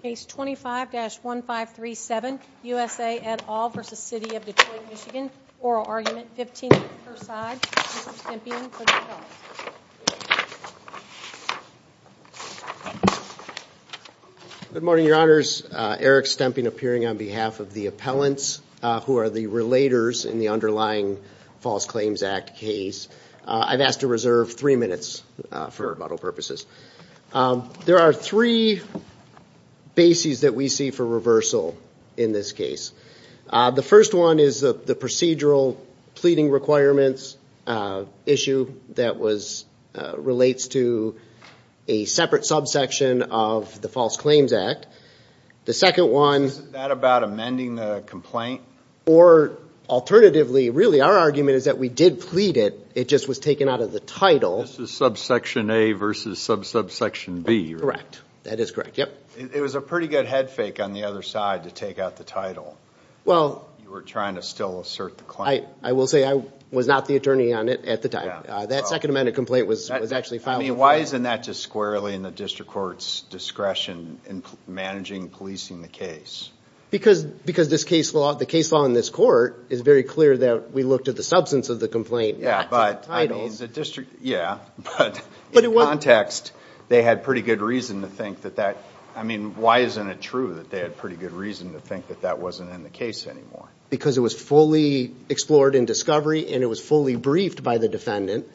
Case 25-1537, USA et al. v. City of Detroit MI, Oral Argument, 15 minutes per side. Mr. Stemping for the appellate. Good morning, your honors. Eric Stemping appearing on behalf of the appellants, who are the relators in the underlying False Claims Act case. I've asked to reserve three minutes for rebuttal purposes. There are three bases that we see for reversal in this case. The first one is the procedural pleading requirements issue that relates to a separate subsection of the False Claims Act. Is that about amending the complaint? Alternatively, our argument is that we did plead it, it just was taken out of the title. This is subsection A versus subsection B, right? Correct. That is correct. It was a pretty good head fake on the other side to take out the title. You were trying to still assert the claim. I will say I was not the attorney on it at the time. That second amended complaint was actually filed before us. Why isn't that just squarely in the district court's discretion in managing and policing the case? Because the case law in this court is very clear that we looked at the substance of the complaint, not the title. In context, they had pretty good reason to think that that wasn't in the case anymore. It was fully explored in discovery and it was fully briefed by the defendant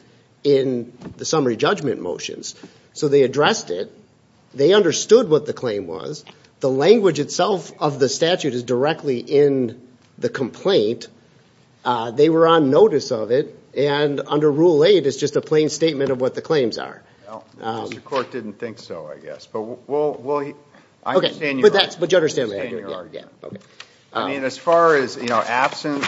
in the summary judgment motions. They addressed it. They understood what the claim was. The language itself of the statute is directly in the complaint. They were on notice of it and under Rule 8, it is just a plain statement of what the claims are. The district court didn't think so, I guess. I understand your argument. As far as absent,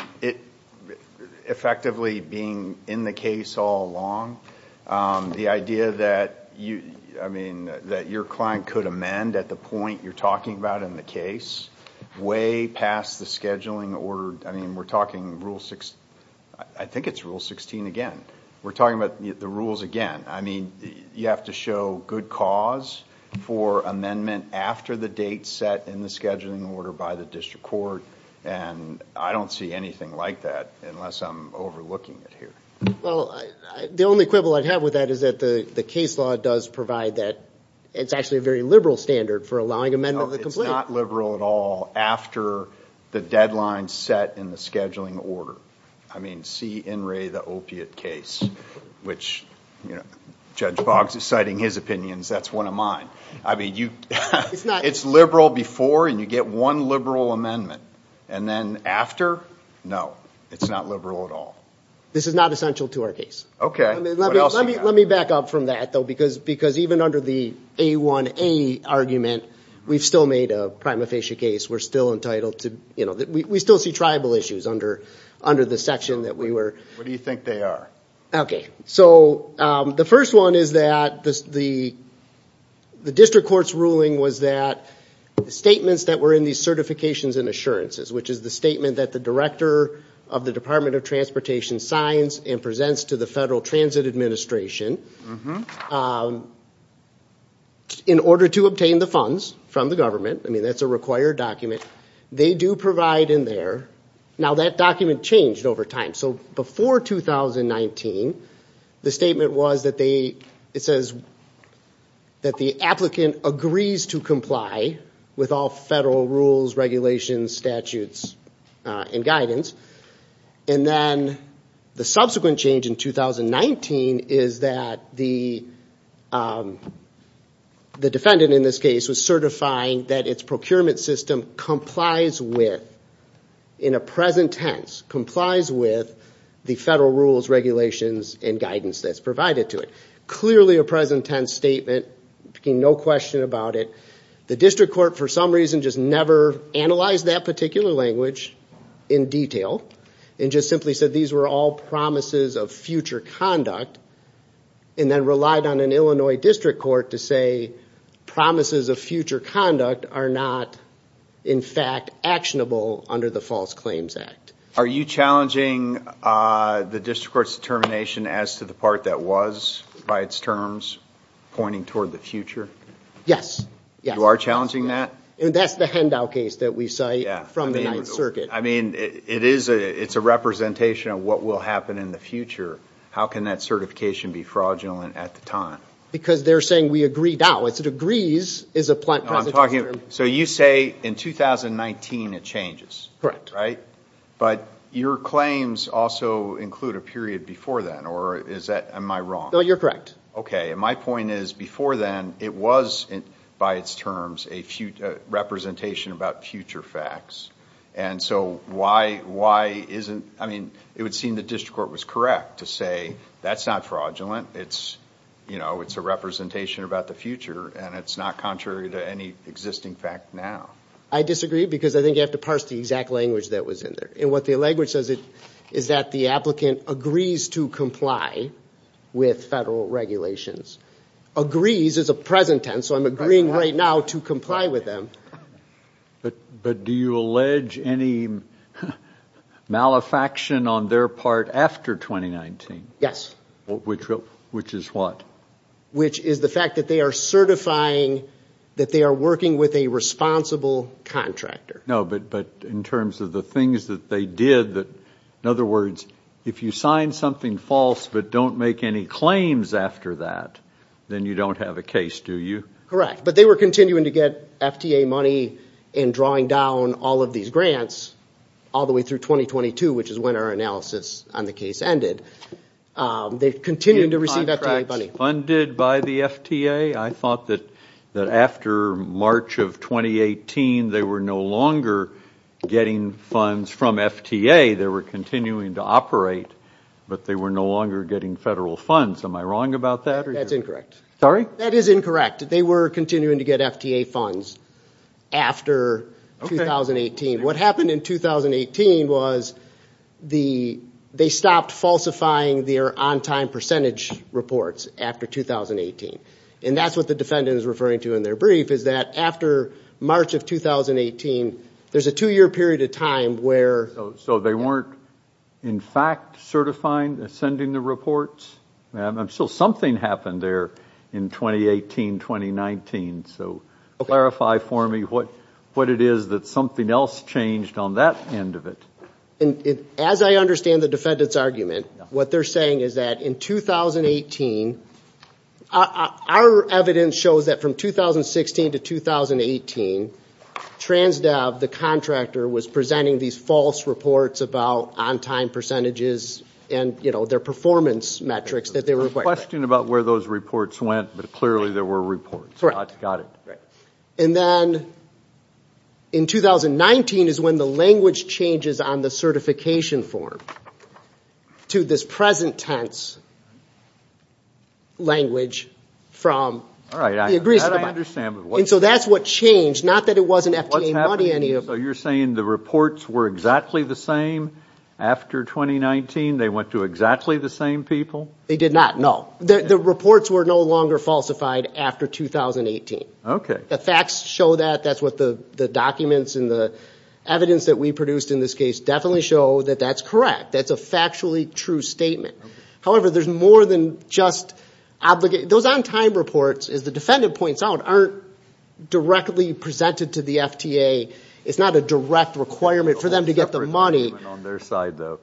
effectively being in the case all along, the idea that your client could amend at the point you are talking about in the case, way past the scheduling order. We are talking Rule 16 again. We are talking about the rules again. You have to show good cause for amendment after the date set in the scheduling order by the district court. I don't see anything like that unless I'm overlooking it here. The only quibble I have with that is that the case law does provide that. It's actually a very liberal standard for allowing amendment of the complaint. It's not liberal at all after the deadline set in the scheduling order. I mean, see in Ray the opiate case, which Judge Boggs is citing his opinions. That's one of mine. It's liberal before and you get one liberal amendment. And then after, no, it's not liberal at all. This is not essential to our case. Let me back up from that, though, because even under the A1A argument, we've still made a prima facie case. We still see tribal issues under the section that we were... What do you think they are? The first one is that the district court's ruling was that statements that were in these certifications and assurances, which is the statement that the director of the Department of Transportation signs and presents to the Federal Transit Administration in order to obtain the funds from the government. I mean, that's a required document. They do provide in there. Now, that document changed over time. So before 2019, the statement was that they... It says that the applicant agrees to comply with all federal rules, regulations, statutes, and guidance. And then the subsequent change in 2019 is that the defendant in this case was certifying that its procurement system complies with, in a present tense, complies with the federal rules, regulations, and guidance that's provided to it. Clearly a present tense statement, no question about it. The district court, for some reason, just never analyzed that particular language in detail and just simply said these were all promises of future conduct and then relied on an Illinois district court to say promises of future conduct are not, in fact, actionable under the False Claims Act. Are you challenging the district court's determination as to the part that was, by its terms, pointing toward the future? Yes. You are challenging that? That's the handout case that we cite from the Ninth Circuit. I mean, it's a representation of what will happen in the future. How can that certification be fraudulent at the time? Because they're saying we agree now. If it agrees, it's a present tense. So you say in 2019 it changes. Correct. Right? But your claims also include a period before then, or am I wrong? No, you're correct. Okay, and my point is before then, it was, by its terms, a representation about future facts. And so why isn't, I mean, it would seem the district court was correct to say that's not fraudulent. It's a representation about the future, and it's not contrary to any existing fact now. I disagree because I think you have to parse the exact language that was in there. And what the language says is that the applicant agrees to comply with federal regulations. Agrees is a present tense, so I'm agreeing right now to comply with them. But do you allege any malefaction on their part after 2019? Yes. Which is what? Which is the fact that they are certifying that they are working with a responsible contractor. No, but in terms of the things that they did, in other words, if you sign something false but don't make any claims after that, then you don't have a case, do you? Correct. But they were continuing to get FTA money in drawing down all of these grants all the way through 2022, which is when our analysis on the case ended. They're continuing to receive FTA money. Funded by the FTA? I thought that after March of 2018, they were no longer getting funds from FTA. They were continuing to operate, but they were no longer getting federal funds. Am I wrong about that? That's incorrect. Sorry? That is incorrect. They were continuing to get FTA funds after 2018. What happened in 2018 was they stopped falsifying their on-time percentage reports after 2018. And that's what the defendant is referring to in their brief, is that after March of 2018, there's a two-year period of time where— So they weren't, in fact, certifying, sending the reports? Something happened there in 2018, 2019. So clarify for me what it is that something else changed on that end of it. As I understand the defendant's argument, what they're saying is that in 2018— Our evidence shows that from 2016 to 2018, TransDev, the contractor, was presenting these false reports about on-time percentages and their performance metrics. There was a question about where those reports went, but clearly there were reports. Got it. And then in 2019 is when the language changes on the certification form to this present tense language from— All right, that I understand. And so that's what changed, not that it wasn't FTA money. So you're saying the reports were exactly the same after 2019? They went to exactly the same people? They did not, no. The reports were no longer falsified after 2018. Okay. The facts show that. That's what the documents and the evidence that we produced in this case definitely show, that that's correct. That's a factually true statement. However, there's more than just— Those on-time reports, as the defendant points out, aren't directly presented to the FTA. It's not a direct requirement for them to get the money. It's not a direct requirement on their side, though.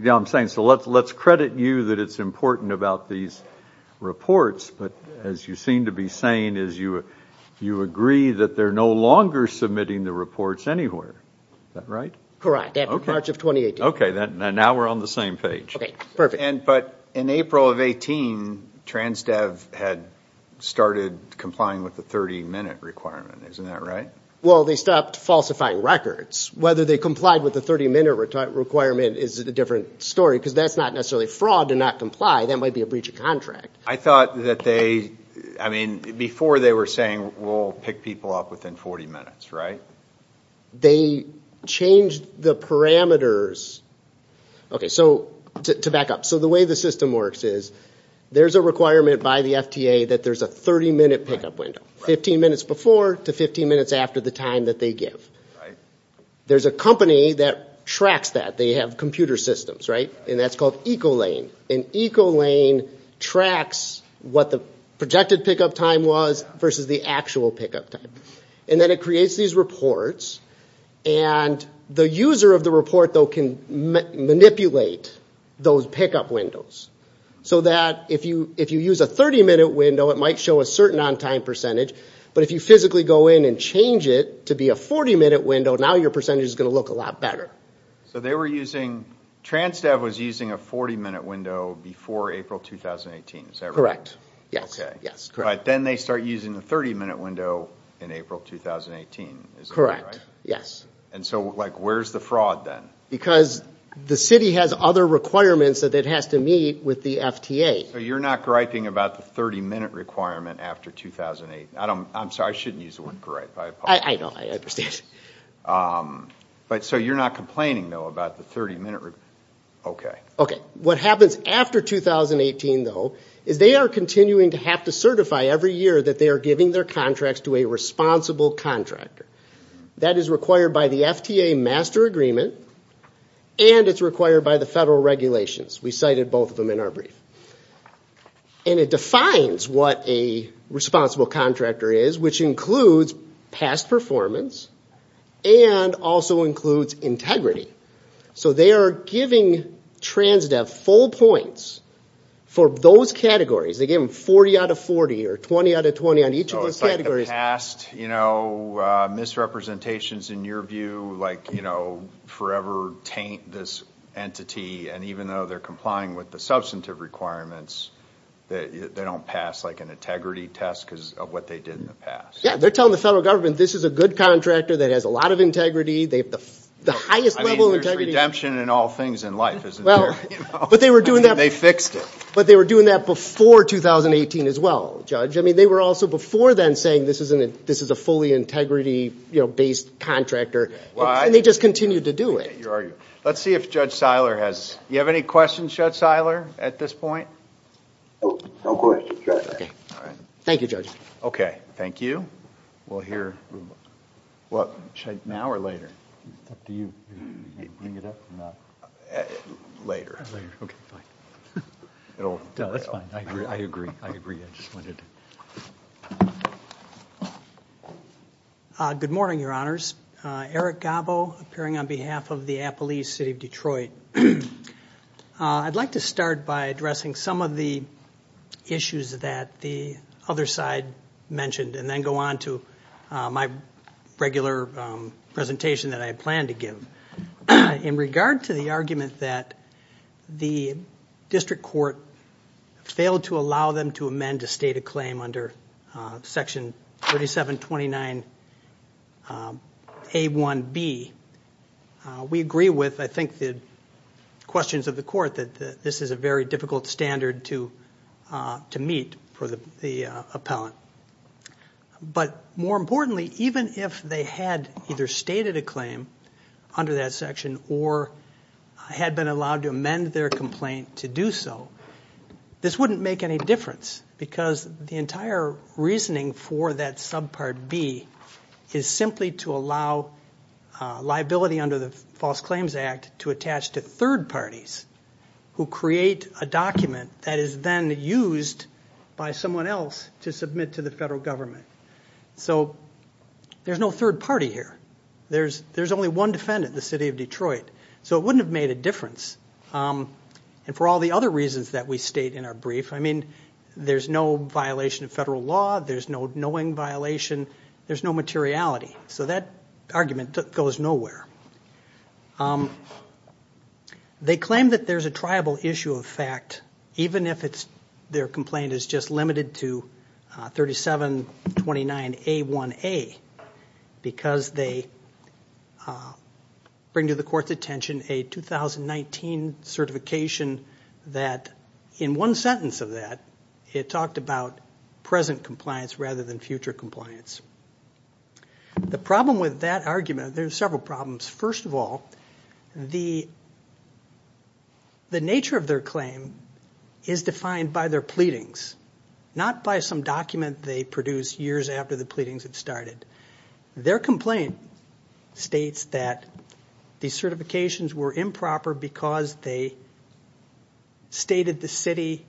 Yeah, I'm saying, so let's credit you that it's important about these reports, but as you seem to be saying is you agree that they're no longer submitting the reports anywhere. Is that right? Correct. March of 2018. Okay. Now we're on the same page. Okay, perfect. But in April of 2018, TransDev had started complying with the 30-minute requirement. Isn't that right? Well, they stopped falsifying records. Whether they complied with the 30-minute requirement is a different story, because that's not necessarily fraud to not comply. That might be a breach of contract. I thought that they—I mean, before they were saying, we'll pick people up within 40 minutes, right? They changed the parameters. Okay, so to back up. So the way the system works is there's a requirement by the FTA that there's a 30-minute pickup window, 15 minutes before to 15 minutes after the time that they give. There's a company that tracks that. They have computer systems, right? And that's called Ecolane. And Ecolane tracks what the projected pickup time was versus the actual pickup time. And then it creates these reports. And the user of the report, though, can manipulate those pickup windows so that if you use a 30-minute window, it might show a certain on-time percentage. But if you physically go in and change it to be a 40-minute window, now your percentage is going to look a lot better. So they were using—Transdev was using a 40-minute window before April 2018. Is that right? Correct, yes. Okay, but then they start using the 30-minute window in April 2018. Is that right? Correct, yes. And so, like, where's the fraud then? Because the city has other requirements that it has to meet with the FTA. So you're not griping about the 30-minute requirement after 2008? I'm sorry, I shouldn't use the word gripe. I know, I understand. So you're not complaining, though, about the 30-minute requirement? Okay. Okay, what happens after 2018, though, is they are continuing to have to certify every year that they are giving their contracts to a responsible contractor. That is required by the FTA Master Agreement, and it's required by the federal regulations. We cited both of them in our brief. And it defines what a responsible contractor is, which includes past performance and also includes integrity. So they are giving Transdev full points for those categories. They gave them 40 out of 40 or 20 out of 20 on each of those categories. So it's like the past, you know, misrepresentations in your view, like, you know, they forever taint this entity, and even though they're complying with the substantive requirements, they don't pass, like, an integrity test because of what they did in the past. Yeah, they're telling the federal government this is a good contractor that has a lot of integrity. They have the highest level of integrity. I mean, there's redemption in all things in life, isn't there? They fixed it. But they were doing that before 2018 as well, Judge. I mean, they were also before then saying this is a fully integrity-based contractor. Why? And they just continued to do it. Let's see if Judge Seiler has – do you have any questions, Judge Seiler, at this point? No questions, Judge. Okay. Thank you, Judge. Okay. Thank you. We'll hear – now or later? It's up to you. Bring it up or not? Later. Later. Okay, fine. That's fine. I agree. I agree. I just wanted to – Good morning, Your Honors. Eric Gabo, appearing on behalf of the Appalachian City of Detroit. I'd like to start by addressing some of the issues that the other side mentioned and then go on to my regular presentation that I had planned to give. In regard to the argument that the district court failed to allow them to amend a state of claim under Section 3729A1B, we agree with, I think, the questions of the court that this is a very difficult standard to meet for the appellant. But more importantly, even if they had either stated a claim under that section or had been allowed to amend their complaint to do so, this wouldn't make any difference because the entire reasoning for that subpart B is simply to allow liability under the False Claims Act to attach to third parties who create a document that is then used by someone else to submit to the federal government. So there's no third party here. There's only one defendant, the City of Detroit. So it wouldn't have made a difference. And for all the other reasons that we state in our brief, I mean, there's no violation of federal law. There's no knowing violation. There's no materiality. So that argument goes nowhere. They claim that there's a triable issue of fact, even if their complaint is just limited to 3729A1A, because they bring to the court's attention a 2019 certification that, in one sentence of that, it talked about present compliance rather than future compliance. The problem with that argument, there's several problems. First of all, the nature of their claim is defined by their pleadings, not by some document they produced years after the pleadings had started. Their complaint states that these certifications were improper because they stated the city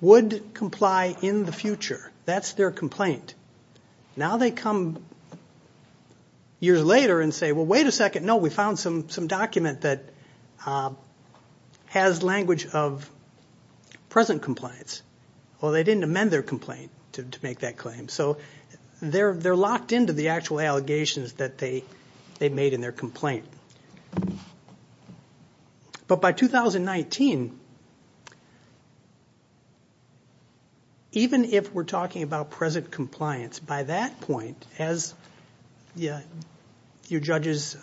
would comply in the future. That's their complaint. Now they come years later and say, well, wait a second. No, we found some document that has language of present compliance. Well, they didn't amend their complaint to make that claim. So they're locked into the actual allegations that they made in their complaint. But by 2019, even if we're talking about present compliance, by that point, as your judges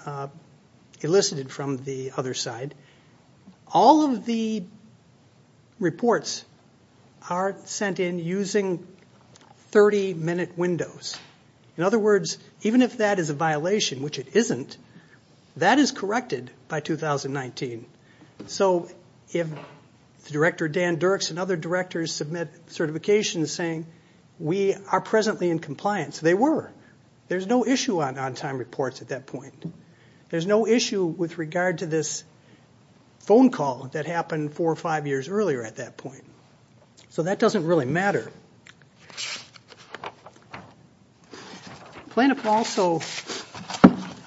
elicited from the other side, all of the reports are sent in using 30-minute windows. In other words, even if that is a violation, which it isn't, that is corrected by 2019. So if Director Dan Dirks and other directors submit certifications saying we are presently in compliance, they were. There's no issue on on-time reports at that point. There's no issue with regard to this phone call that happened four or five years earlier at that point. So that doesn't really matter. Plaintiff also,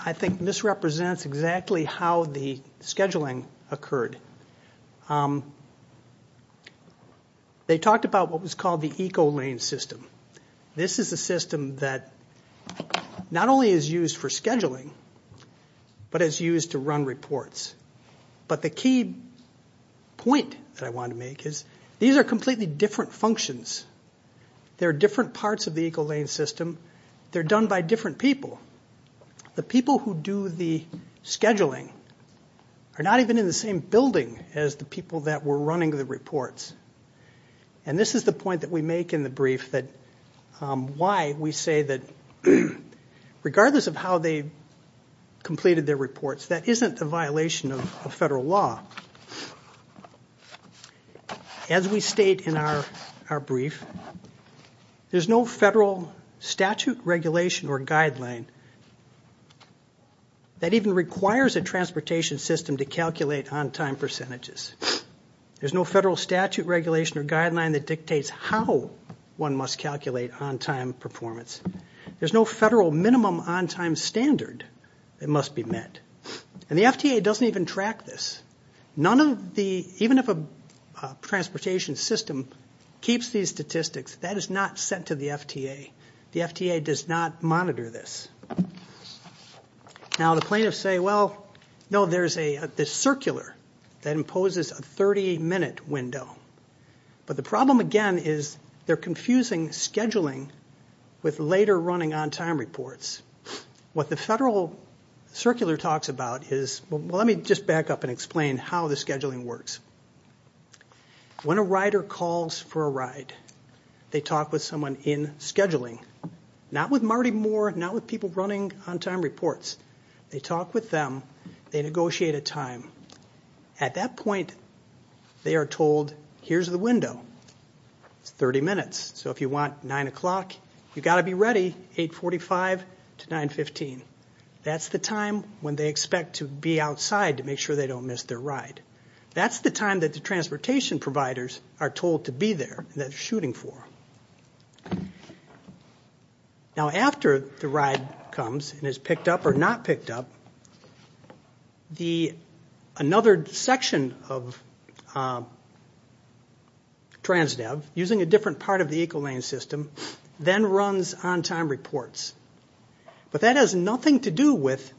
I think, misrepresents exactly how the scheduling occurred. They talked about what was called the Ecolane system. This is a system that not only is used for scheduling, but is used to run reports. But the key point that I want to make is these are completely different functions. They're different parts of the Ecolane system. They're done by different people. The people who do the scheduling are not even in the same building as the people that were running the reports. And this is the point that we make in the brief that why we say that regardless of how they completed their reports, that isn't a violation of federal law. As we state in our brief, there's no federal statute, regulation, or guideline that even requires a transportation system to calculate on-time percentages. There's no federal statute, regulation, or guideline that dictates how one must calculate on-time performance. There's no federal minimum on-time standard that must be met. And the FTA doesn't even track this. Even if a transportation system keeps these statistics, that is not sent to the FTA. The FTA does not monitor this. Now, the plaintiffs say, well, no, there's this circular that imposes a 30-minute window. But the problem, again, is they're confusing scheduling with later running on-time reports. What the federal circular talks about is, well, let me just back up and explain how the scheduling works. When a rider calls for a ride, they talk with someone in scheduling, not with Marty Moore, not with people running on-time reports. They talk with them. They negotiate a time. At that point, they are told, here's the window. It's 30 minutes. So if you want 9 o'clock, you've got to be ready 845 to 915. That's the time when they expect to be outside to make sure they don't miss their ride. That's the time that the transportation providers are told to be there and that they're shooting for. Now, after the ride comes and is picked up or not picked up, another section of TransDev, using a different part of the Equal Lane System, then runs on-time reports. But that has nothing to do with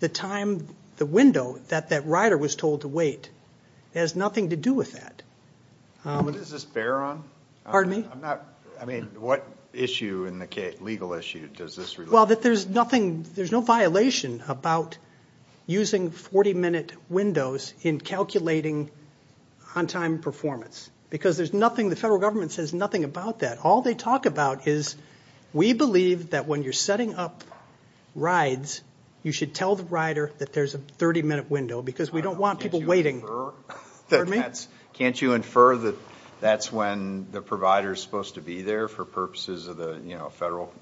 the window that that rider was told to wait. It has nothing to do with that. What does this bear on? Pardon me? I mean, what issue in the legal issue does this relate to? Well, there's no violation about using 40-minute windows in calculating on-time performance because the federal government says nothing about that. All they talk about is we believe that when you're setting up rides, you should tell the rider that there's a 30-minute window because we don't want people waiting. Can't you infer that that's when the provider is supposed to be there for purposes of the federal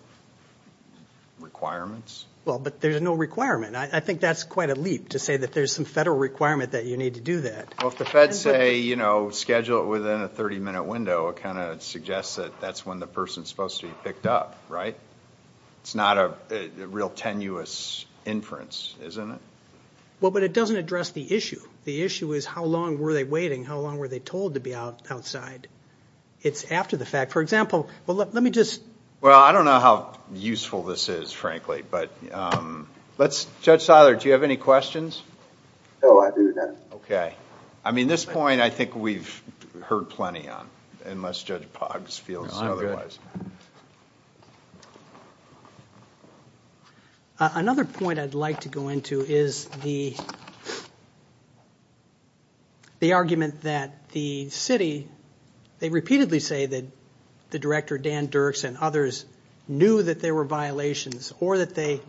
requirements? Well, but there's no requirement. I think that's quite a leap to say that there's some federal requirement that you need to do that. Well, if the feds say schedule it within a 30-minute window, it kind of suggests that that's when the person is supposed to be picked up, right? It's not a real tenuous inference, isn't it? Well, but it doesn't address the issue. The issue is how long were they waiting? How long were they told to be outside? It's after the fact. For example, well, let me just – Well, I don't know how useful this is, frankly, but let's – Judge Seiler, do you have any questions? No, I do not. Okay. I mean, this point I think we've heard plenty on, unless Judge Poggs feels otherwise. No, I'm good. Another point I'd like to go into is the argument that the city – they repeatedly say that the director, Dan Dirks, and others knew that there were violations or that they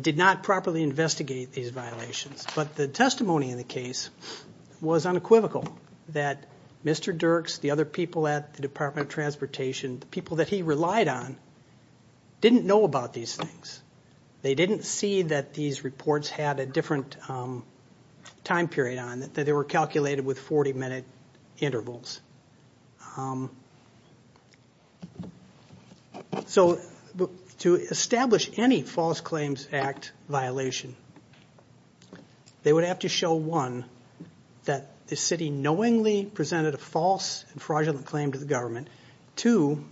did not properly investigate these violations. But the testimony in the case was unequivocal, that Mr. Dirks, the other people at the Department of Transportation, the people that he relied on, didn't know about these things. They didn't see that these reports had a different time period on them, that they were calculated with 40-minute intervals. So to establish any False Claims Act violation, they would have to show, one, that the city knowingly presented a false and fraudulent claim to the government. Two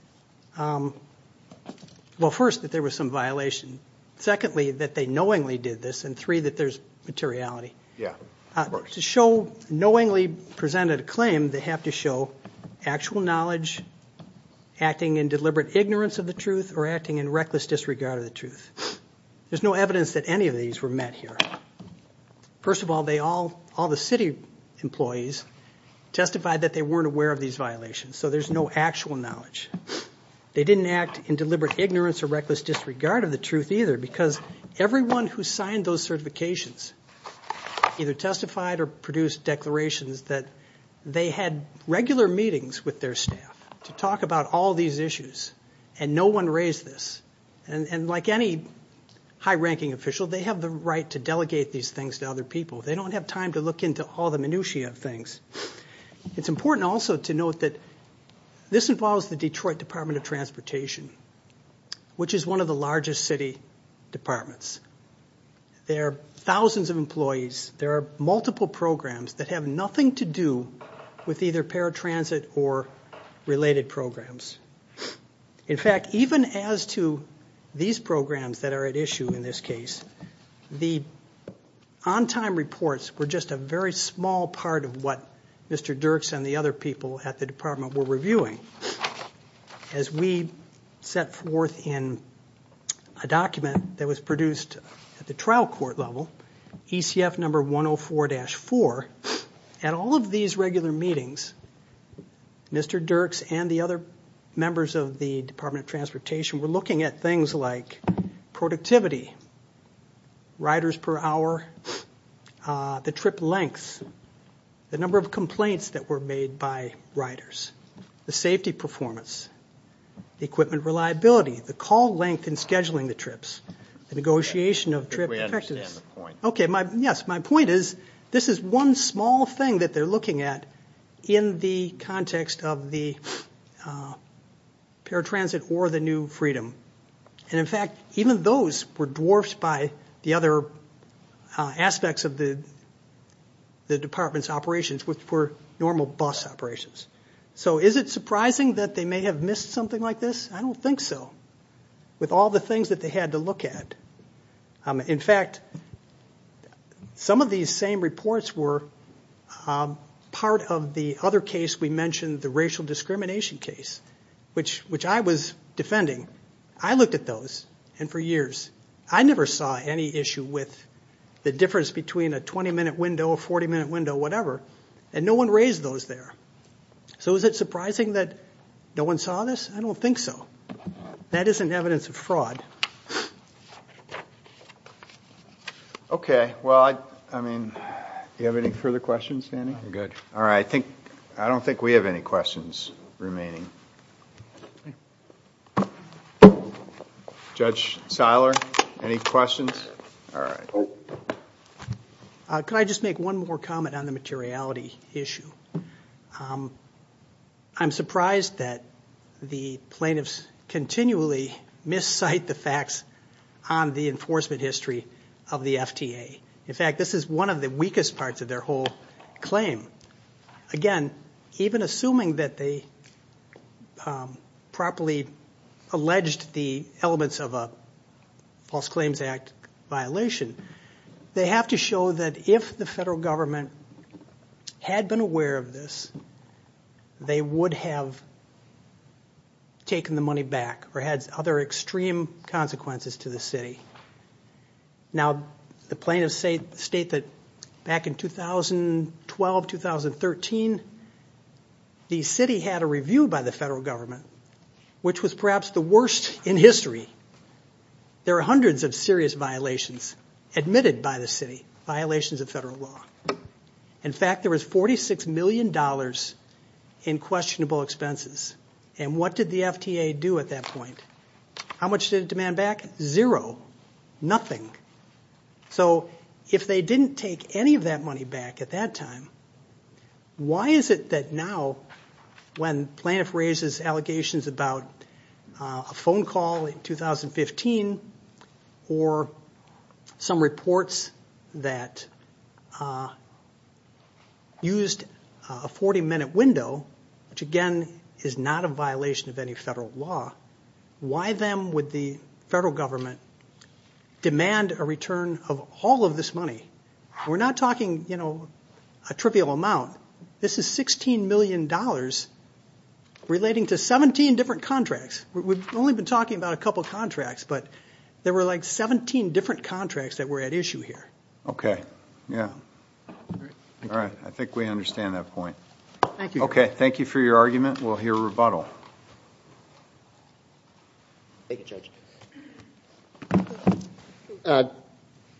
– well, first, that there was some violation. Secondly, that they knowingly did this. And three, that there's materiality. Yeah. To show knowingly presented a claim, they have to show actual knowledge, acting in deliberate ignorance of the truth, or acting in reckless disregard of the truth. There's no evidence that any of these were met here. First of all, all the city employees testified that they weren't aware of these violations, so there's no actual knowledge. They didn't act in deliberate ignorance or reckless disregard of the truth, either, because everyone who signed those certifications either testified or produced declarations that they had regular meetings with their staff to talk about all these issues, and no one raised this. And like any high-ranking official, they have the right to delegate these things to other people. They don't have time to look into all the minutiae of things. It's important also to note that this involves the Detroit Department of Transportation, which is one of the largest city departments. There are thousands of employees. There are multiple programs that have nothing to do with either paratransit or related programs. In fact, even as to these programs that are at issue in this case, the on-time reports were just a very small part of what Mr. Dirks and the other people at the department were reviewing. As we set forth in a document that was produced at the trial court level, ECF number 104-4, at all of these regular meetings, Mr. Dirks and the other members of the Department of Transportation were looking at things like productivity, riders per hour, the trip lengths, the number of complaints that were made by riders, the safety performance, the equipment reliability, the call length in scheduling the trips, the negotiation of trip effectiveness. My point is this is one small thing that they're looking at in the context of the paratransit or the new freedom. In fact, even those were dwarfed by the other aspects of the department's operations, which were normal bus operations. Is it surprising that they may have missed something like this? I don't think so, with all the things that they had to look at. In fact, some of these same reports were part of the other case we mentioned, the racial discrimination case, which I was defending. I looked at those, and for years I never saw any issue with the difference between a 20-minute window, a 40-minute window, whatever, and no one raised those there. So is it surprising that no one saw this? I don't think so. That isn't evidence of fraud. Okay. Well, I mean, do you have any further questions, Andy? No, we're good. All right. I don't think we have any questions remaining. Judge Seiler, any questions? All right. Could I just make one more comment on the materiality issue? I'm surprised that the plaintiffs continually miscite the facts on the enforcement history of the FTA. In fact, this is one of the weakest parts of their whole claim. Again, even assuming that they properly alleged the elements of a False Claims Act violation, they have to show that if the federal government had been aware of this, they would have taken the money back or had other extreme consequences to the city. Now, the plaintiffs state that back in 2012, 2013, the city had a review by the federal government, which was perhaps the worst in history. There are hundreds of serious violations admitted by the city, violations of federal law. In fact, there was $46 million in questionable expenses. And what did the FTA do at that point? How much did it demand back? Zero. So if they didn't take any of that money back at that time, why is it that now when plaintiff raises allegations about a phone call in 2015 or some reports that used a 40-minute window, which again is not a violation of any federal law, why then would the federal government demand a return of all of this money? We're not talking a trivial amount. This is $16 million relating to 17 different contracts. We've only been talking about a couple of contracts, but there were like 17 different contracts that were at issue here. Okay. Yeah. All right. I think we understand that point. Thank you. Okay. Thank you for your argument. We'll hear a rebuttal. Thank you, Judge.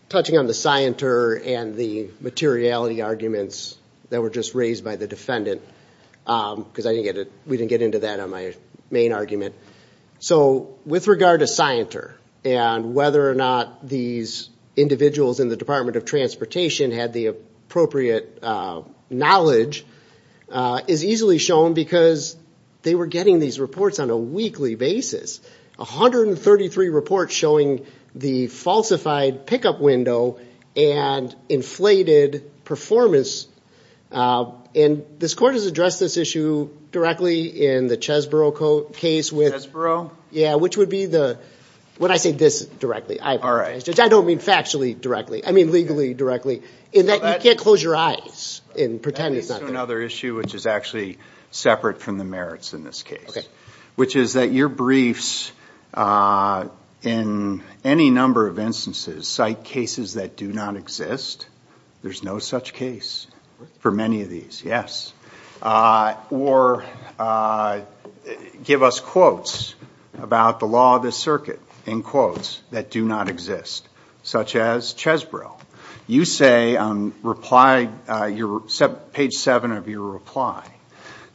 Touching on the scienter and the materiality arguments that were just raised by the defendant, because we didn't get into that on my main argument. So with regard to scienter and whether or not these individuals in the Department of Transportation had the appropriate knowledge is easily shown because they were getting these reports on a weekly basis, 133 reports showing the falsified pickup window and inflated performance. And this court has addressed this issue directly in the Chesborough case. Chesborough? Yeah, which would be the – when I say this directly. All right. I don't mean factually directly. I mean legally directly in that you can't close your eyes and pretend it's not there. That leads to another issue, which is actually separate from the merits in this case. Okay. Which is that your briefs in any number of instances cite cases that do not exist. There's no such case for many of these. Yes. Or give us quotes about the law of the circuit, in quotes, that do not exist, such as Chesborough. You say on page 7 of your reply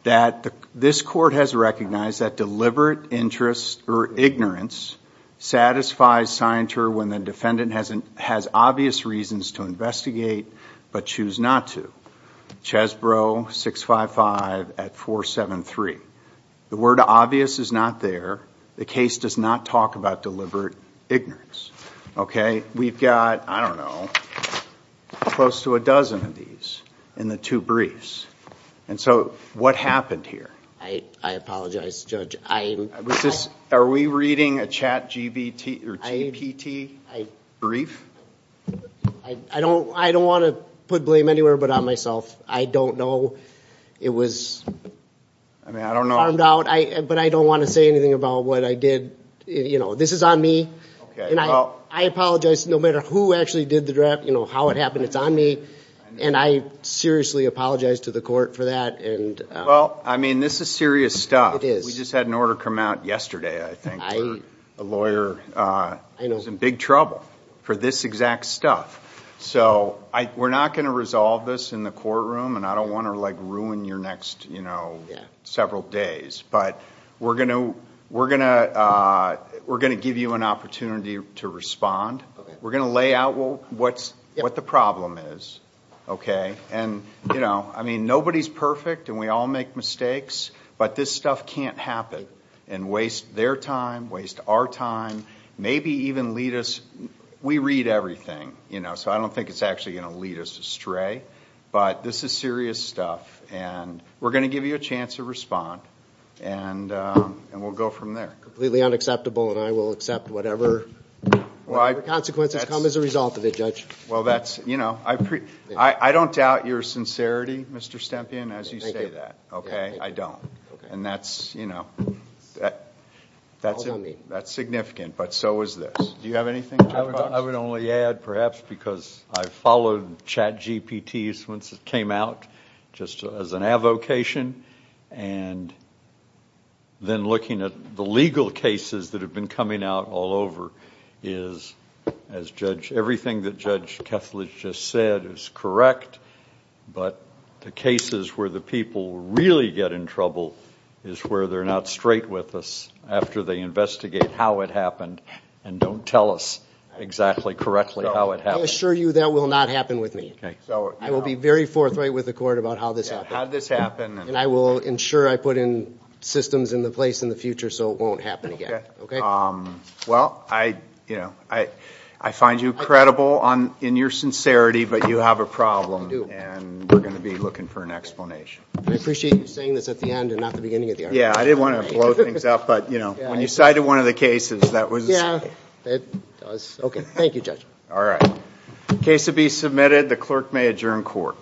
that this court has recognized that deliberate interest or ignorance satisfies scienter when the defendant has obvious reasons to investigate but choose not to. Chesborough, 655 at 473. The word obvious is not there. The case does not talk about deliberate ignorance. Okay. We've got, I don't know, close to a dozen of these in the two briefs. And so what happened here? I apologize, Judge. Are we reading a chat GPT brief? I don't want to put blame anywhere but on myself. I don't know. It was farmed out, but I don't want to say anything about what I did. You know, this is on me. And I apologize, no matter who actually did the draft, you know, how it happened, it's on me. And I seriously apologize to the court for that. Well, I mean, this is serious stuff. It is. We just had an order come out yesterday, I think, for a lawyer. I know. We're in big trouble for this exact stuff. So we're not going to resolve this in the courtroom, and I don't want to, like, ruin your next, you know, several days. But we're going to give you an opportunity to respond. We're going to lay out what the problem is, okay? And, you know, I mean, nobody's perfect, and we all make mistakes, but this stuff can't happen and waste their time, waste our time, maybe even lead us, we read everything, you know, so I don't think it's actually going to lead us astray. But this is serious stuff, and we're going to give you a chance to respond, and we'll go from there. Completely unacceptable, and I will accept whatever consequences come as a result of it, Judge. Well, that's, you know, I don't doubt your sincerity, Mr. Stempien, as you say that, okay? I don't. And that's, you know, that's significant. But so is this. Do you have anything, Judge Box? I would only add, perhaps, because I've followed CHAT GPT since it came out, just as an avocation, and then looking at the legal cases that have been coming out all over is, as Judge, everything that Judge Kethledge just said is correct, but the cases where the people really get in trouble is where they're not straight with us after they investigate how it happened and don't tell us exactly correctly how it happened. I assure you that will not happen with me. I will be very forthright with the court about how this happened. How did this happen? And I will ensure I put in systems in place in the future so it won't happen again. Okay. Well, I, you know, I find you credible in your sincerity, but you have a problem. And we're going to be looking for an explanation. Thank you, Judge. I appreciate you saying this at the end and not the beginning of the argument. Yeah, I didn't want to blow things up, but, you know, when you cited one of the cases, that was... Yeah, it was... Okay. Thank you, Judge. All right. Case to be submitted. The clerk may adjourn court.